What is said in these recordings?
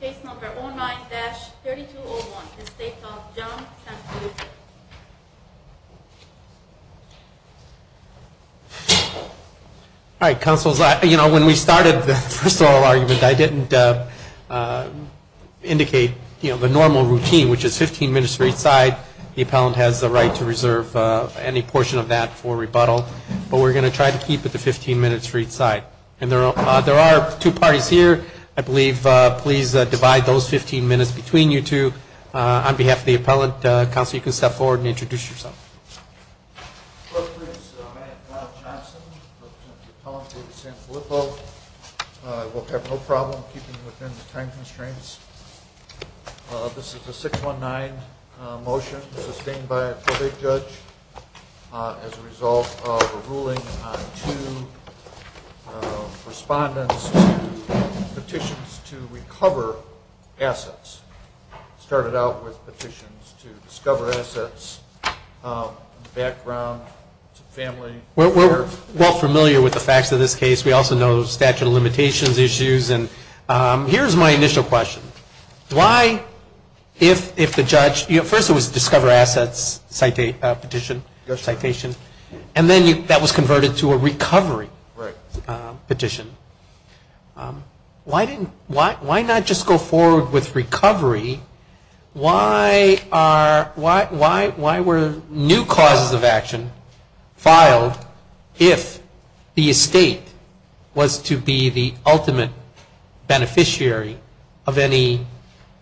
Case number 09-3201, the estate of John Sanfilippo. All right, counsels, when we started the first of all argument, I didn't indicate the normal routine, which is 15 minutes for each side. The appellant has the right to reserve any portion of that for rebuttal. But we're going to try to keep it to 15 minutes for each side. And there are two parties here, I believe. Please divide those 15 minutes between you two. On behalf of the appellant, counsel, you can step forward and introduce yourself. My name is Matt Johnson. I'm an appellant for Sanfilippo. I will have no problem keeping within the time constraints. This is a 619 motion, sustained by an appellate judge. As a result of a ruling on two respondents to petitions to recover assets. It started out with petitions to discover assets, background, family. We're well familiar with the facts of this case. We also know statute of limitations issues. And here's my initial question. Why, if the judge, first it was discover assets petition. And then that was converted to a recovery petition. Why not just go forward with recovery? Why were new causes of action filed if the estate was to be the ultimate beneficiary of any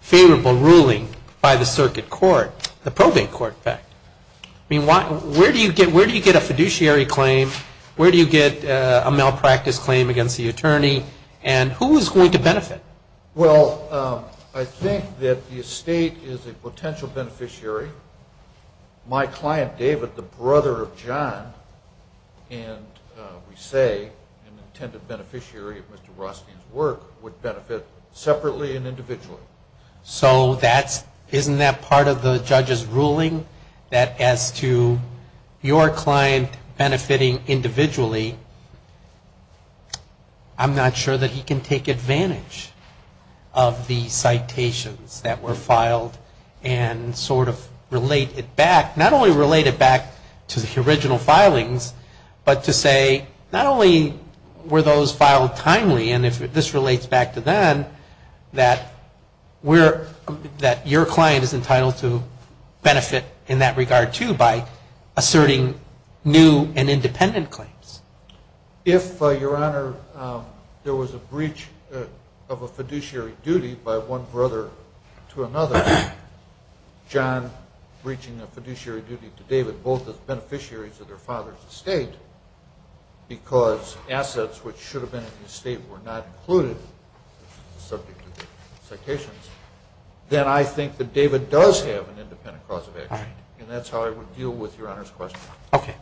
favorable ruling by the circuit court? The probate court, in fact. Where do you get a fiduciary claim? Where do you get a malpractice claim against the attorney? And who is going to benefit? Well, I think that the estate is a potential beneficiary. My client, David, the brother of John. And we say an intended beneficiary of Mr. Rothstein's work would benefit separately and individually. So that's, isn't that part of the judge's ruling? That as to your client benefiting individually, I'm not sure that he can take advantage of the citations that were filed. And sort of relate it back, not only relate it back to the original filings, but to say not only were those filed timely. And if this relates back to then, that your client is entitled to benefit in that regard, too, by asserting new and independent claims. If, Your Honor, there was a breach of a fiduciary duty by one brother to another, John breaching a fiduciary duty to David, both as beneficiaries of their father's estate, because assets which should have been in the estate were not included, subject to the citations, then I think that David does have an independent cause of action. And that's how I would deal with Your Honor's question. Okay.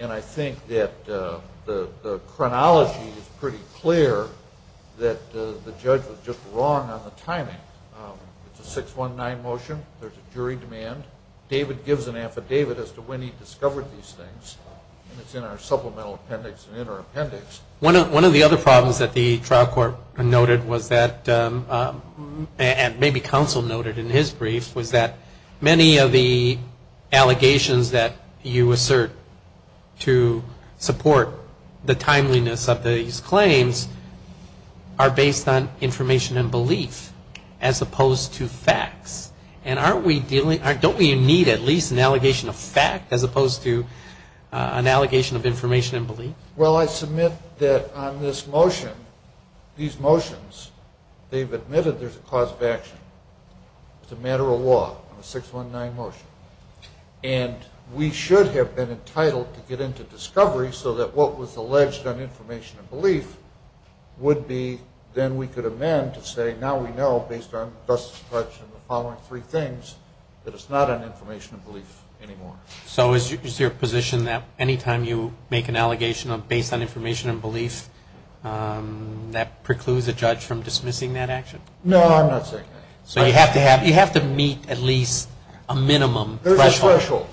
And I think that the chronology is pretty clear that the judge was just wrong on the timing. It's a 619 motion. There's a jury demand. David gives an affidavit as to when he discovered these things, and it's in our supplemental appendix and in our appendix. One of the other problems that the trial court noted was that, and maybe counsel noted in his brief, was that many of the allegations that you assert to support the timeliness of these claims are based on information and belief, as opposed to facts. And don't we need at least an allegation of fact as opposed to an allegation of information and belief? Well, I submit that on this motion, these motions, they've admitted there's a cause of action. It's a matter of law on a 619 motion. And we should have been entitled to get into discovery so that what was alleged on information and belief would be, then we could amend to say now we know, based on the Justice Department's following three things, that it's not on information and belief anymore. So is your position that any time you make an allegation based on information and belief, that precludes a judge from dismissing that action? No, I'm not saying that. So you have to meet at least a minimum threshold. There's a threshold.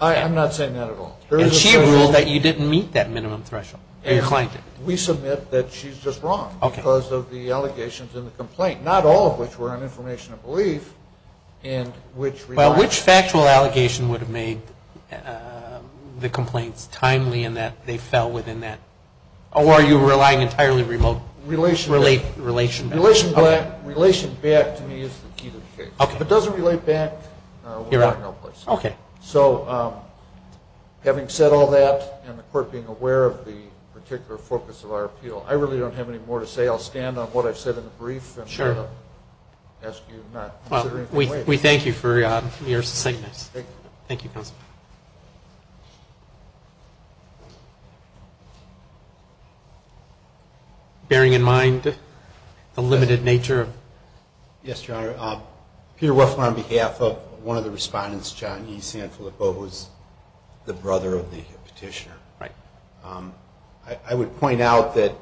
I'm not saying that at all. And she ruled that you didn't meet that minimum threshold. We submit that she's just wrong because of the allegations in the complaint, not all of which were on information and belief. Well, which factual allegation would have made the complaints timely in that they fell within that? Or are you relying entirely on relation back? Relation back to me is the key to the case. If it doesn't relate back, we're out of no place. Okay. So having said all that, and the court being aware of the particular focus of our appeal, I really don't have any more to say. I'll stand on what I've said in the brief. Sure. And I'll ask you not to consider anything later. Well, we thank you for your succinctness. Thank you. Thank you, Counsel. Bearing in mind the limited nature of... was the brother of the petitioner. Right. I would point out that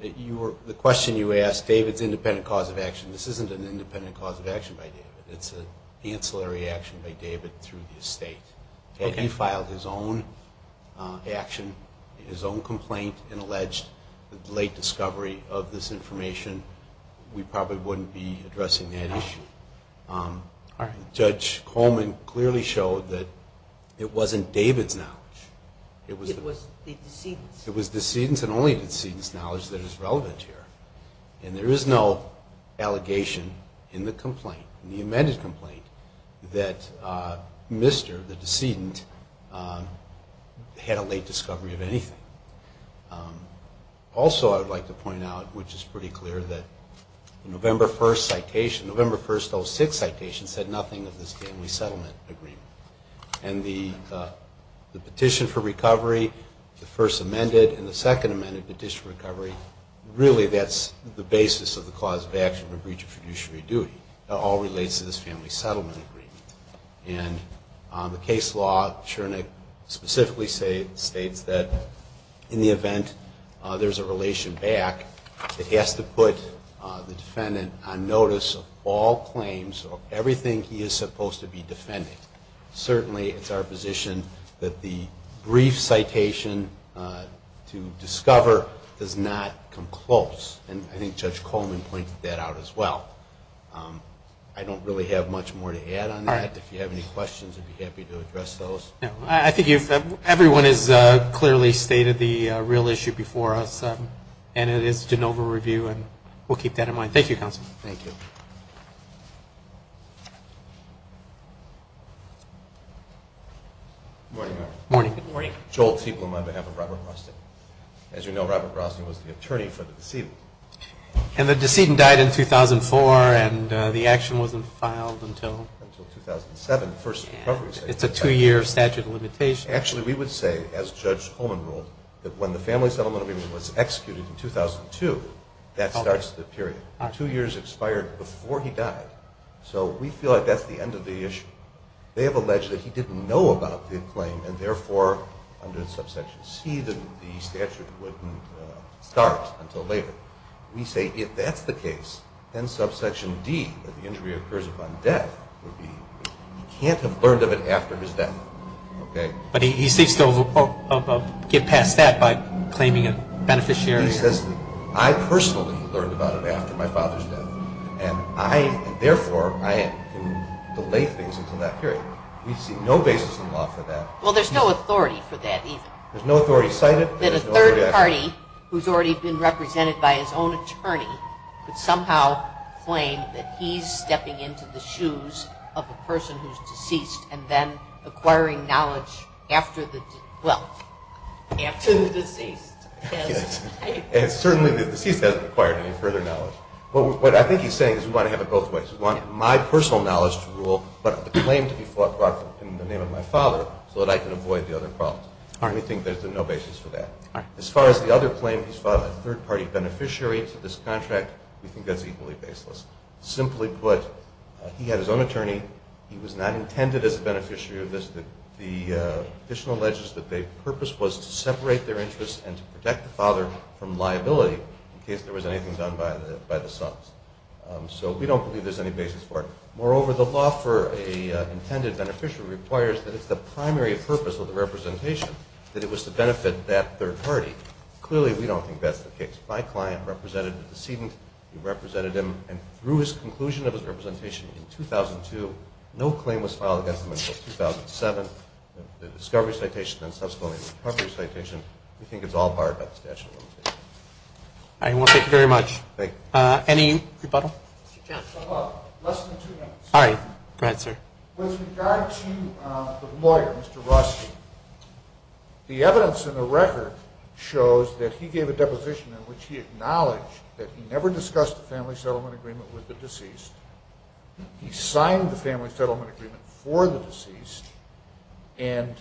the question you asked, David's independent cause of action, this isn't an independent cause of action by David. It's an ancillary action by David through the estate. Had he filed his own action, his own complaint, and alleged late discovery of this information, we probably wouldn't be addressing that issue. All right. Judge Coleman clearly showed that it wasn't David's knowledge. It was the decedent's. It was the decedent's and only the decedent's knowledge that is relevant here. And there is no allegation in the complaint, in the amended complaint, that Mr., the decedent, had a late discovery of anything. Also, I would like to point out, which is pretty clear, that the November 1st citation, November 1st, 2006 citation, said nothing of this family settlement agreement. And the petition for recovery, the first amended, and the second amended petition for recovery, really that's the basis of the cause of action for breach of fiduciary duty. It all relates to this family settlement agreement. And the case law, Schoenig, specifically states that in the event there's a relation back, it has to put the defendant on notice of all claims, of everything he is supposed to be defending. Certainly, it's our position that the brief citation to discover does not come close. And I think Judge Coleman pointed that out as well. I don't really have much more to add on that. If you have any questions, I'd be happy to address those. I think everyone has clearly stated the real issue before us, and it is the Genova review, and we'll keep that in mind. Thank you, Counsel. Thank you. Good morning, Mayor. Good morning. Joel Tiefelman on behalf of Robert Brosnan. As you know, Robert Brosnan was the attorney for the decedent. And the decedent died in 2004, and the action wasn't filed until? Until 2007, the first recovery. It's a two-year statute of limitations. Actually, we would say, as Judge Coleman ruled, that when the family settlement agreement was executed in 2002, that starts the period. Two years expired before he died. So we feel like that's the end of the issue. They have alleged that he didn't know about the claim, and therefore, under subsection C, the statute wouldn't start until later. We say if that's the case, then subsection D, that the injury occurs upon death, he can't have learned of it after his death. But he seeks to get past that by claiming a beneficiary? He says, I personally learned about it after my father's death, and therefore, I can delay things until that period. We see no basis in law for that. Well, there's no authority for that, even. There's no authority cited. Then a third party, who's already been represented by his own attorney, could somehow claim that he's stepping into the shoes of a person who's deceased and then acquiring knowledge after the, well, after the deceased. And certainly the deceased hasn't acquired any further knowledge. But what I think he's saying is we want to have it both ways. We want my personal knowledge to rule, but the claim to be brought in the name of my father so that I can avoid the other problems. We think there's no basis for that. As far as the other claim, his father, a third party beneficiary to this contract, we think that's equally baseless. Simply put, he had his own attorney. He was not intended as a beneficiary of this. The official alleges that their purpose was to separate their interests and to protect the father from liability in case there was anything done by the sons. So we don't believe there's any basis for it. Moreover, the law for an intended beneficiary requires that it's the primary purpose of the representation that it was to benefit that third party. Clearly, we don't think that's the case. My client represented a decedent. He represented him, and through his conclusion of his representation in 2002, no claim was filed against him until 2007. The discovery citation and subsequently the recovery citation, we think it's all barred by the statute of limitations. All right. Well, thank you very much. Thank you. Any rebuttal? Less than two minutes. All right. Go ahead, sir. With regard to the lawyer, Mr. Rothstein, the evidence in the record shows that he gave a deposition in which he acknowledged that he never discussed the family settlement agreement with the deceased. He signed the family settlement agreement for the deceased, and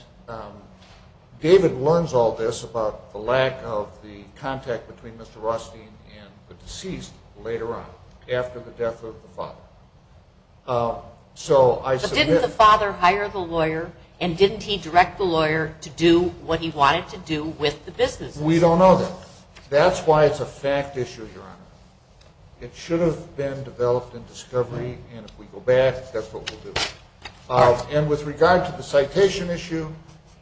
David learns all this about the lack of the contact between Mr. Rothstein and the deceased later on after the death of the father. But didn't the father hire the lawyer, and didn't he direct the lawyer to do what he wanted to do with the businesses? We don't know that. That's why it's a fact issue, Your Honor. It should have been developed in discovery, and if we go back, that's what we'll do. And with regard to the citation issue,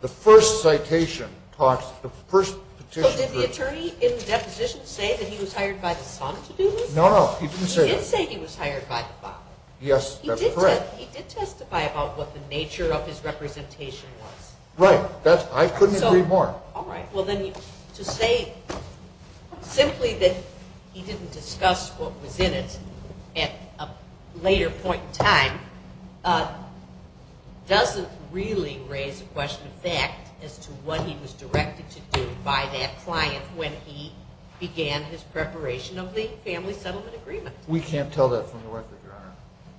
the first citation talks to the first petition. So did the attorney in the deposition say that he was hired by the son to do this? No, no. He didn't say that. Yes, that's correct. He did testify about what the nature of his representation was. Right. I couldn't agree more. All right. Well, then to say simply that he didn't discuss what was in it at a later point in time doesn't really raise the question of fact as to what he was directed to do by that client when he began his preparation of the family settlement agreement. We can't tell that from the record, Your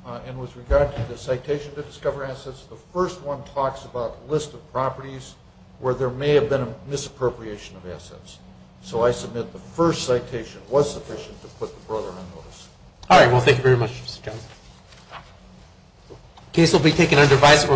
Honor. And with regard to the citation to discover assets, the first one talks about a list of properties where there may have been a misappropriation of assets. So I submit the first citation was sufficient to put the brother on notice. All right. Well, thank you very much, Mr. Johnson. The case will be taken under vice.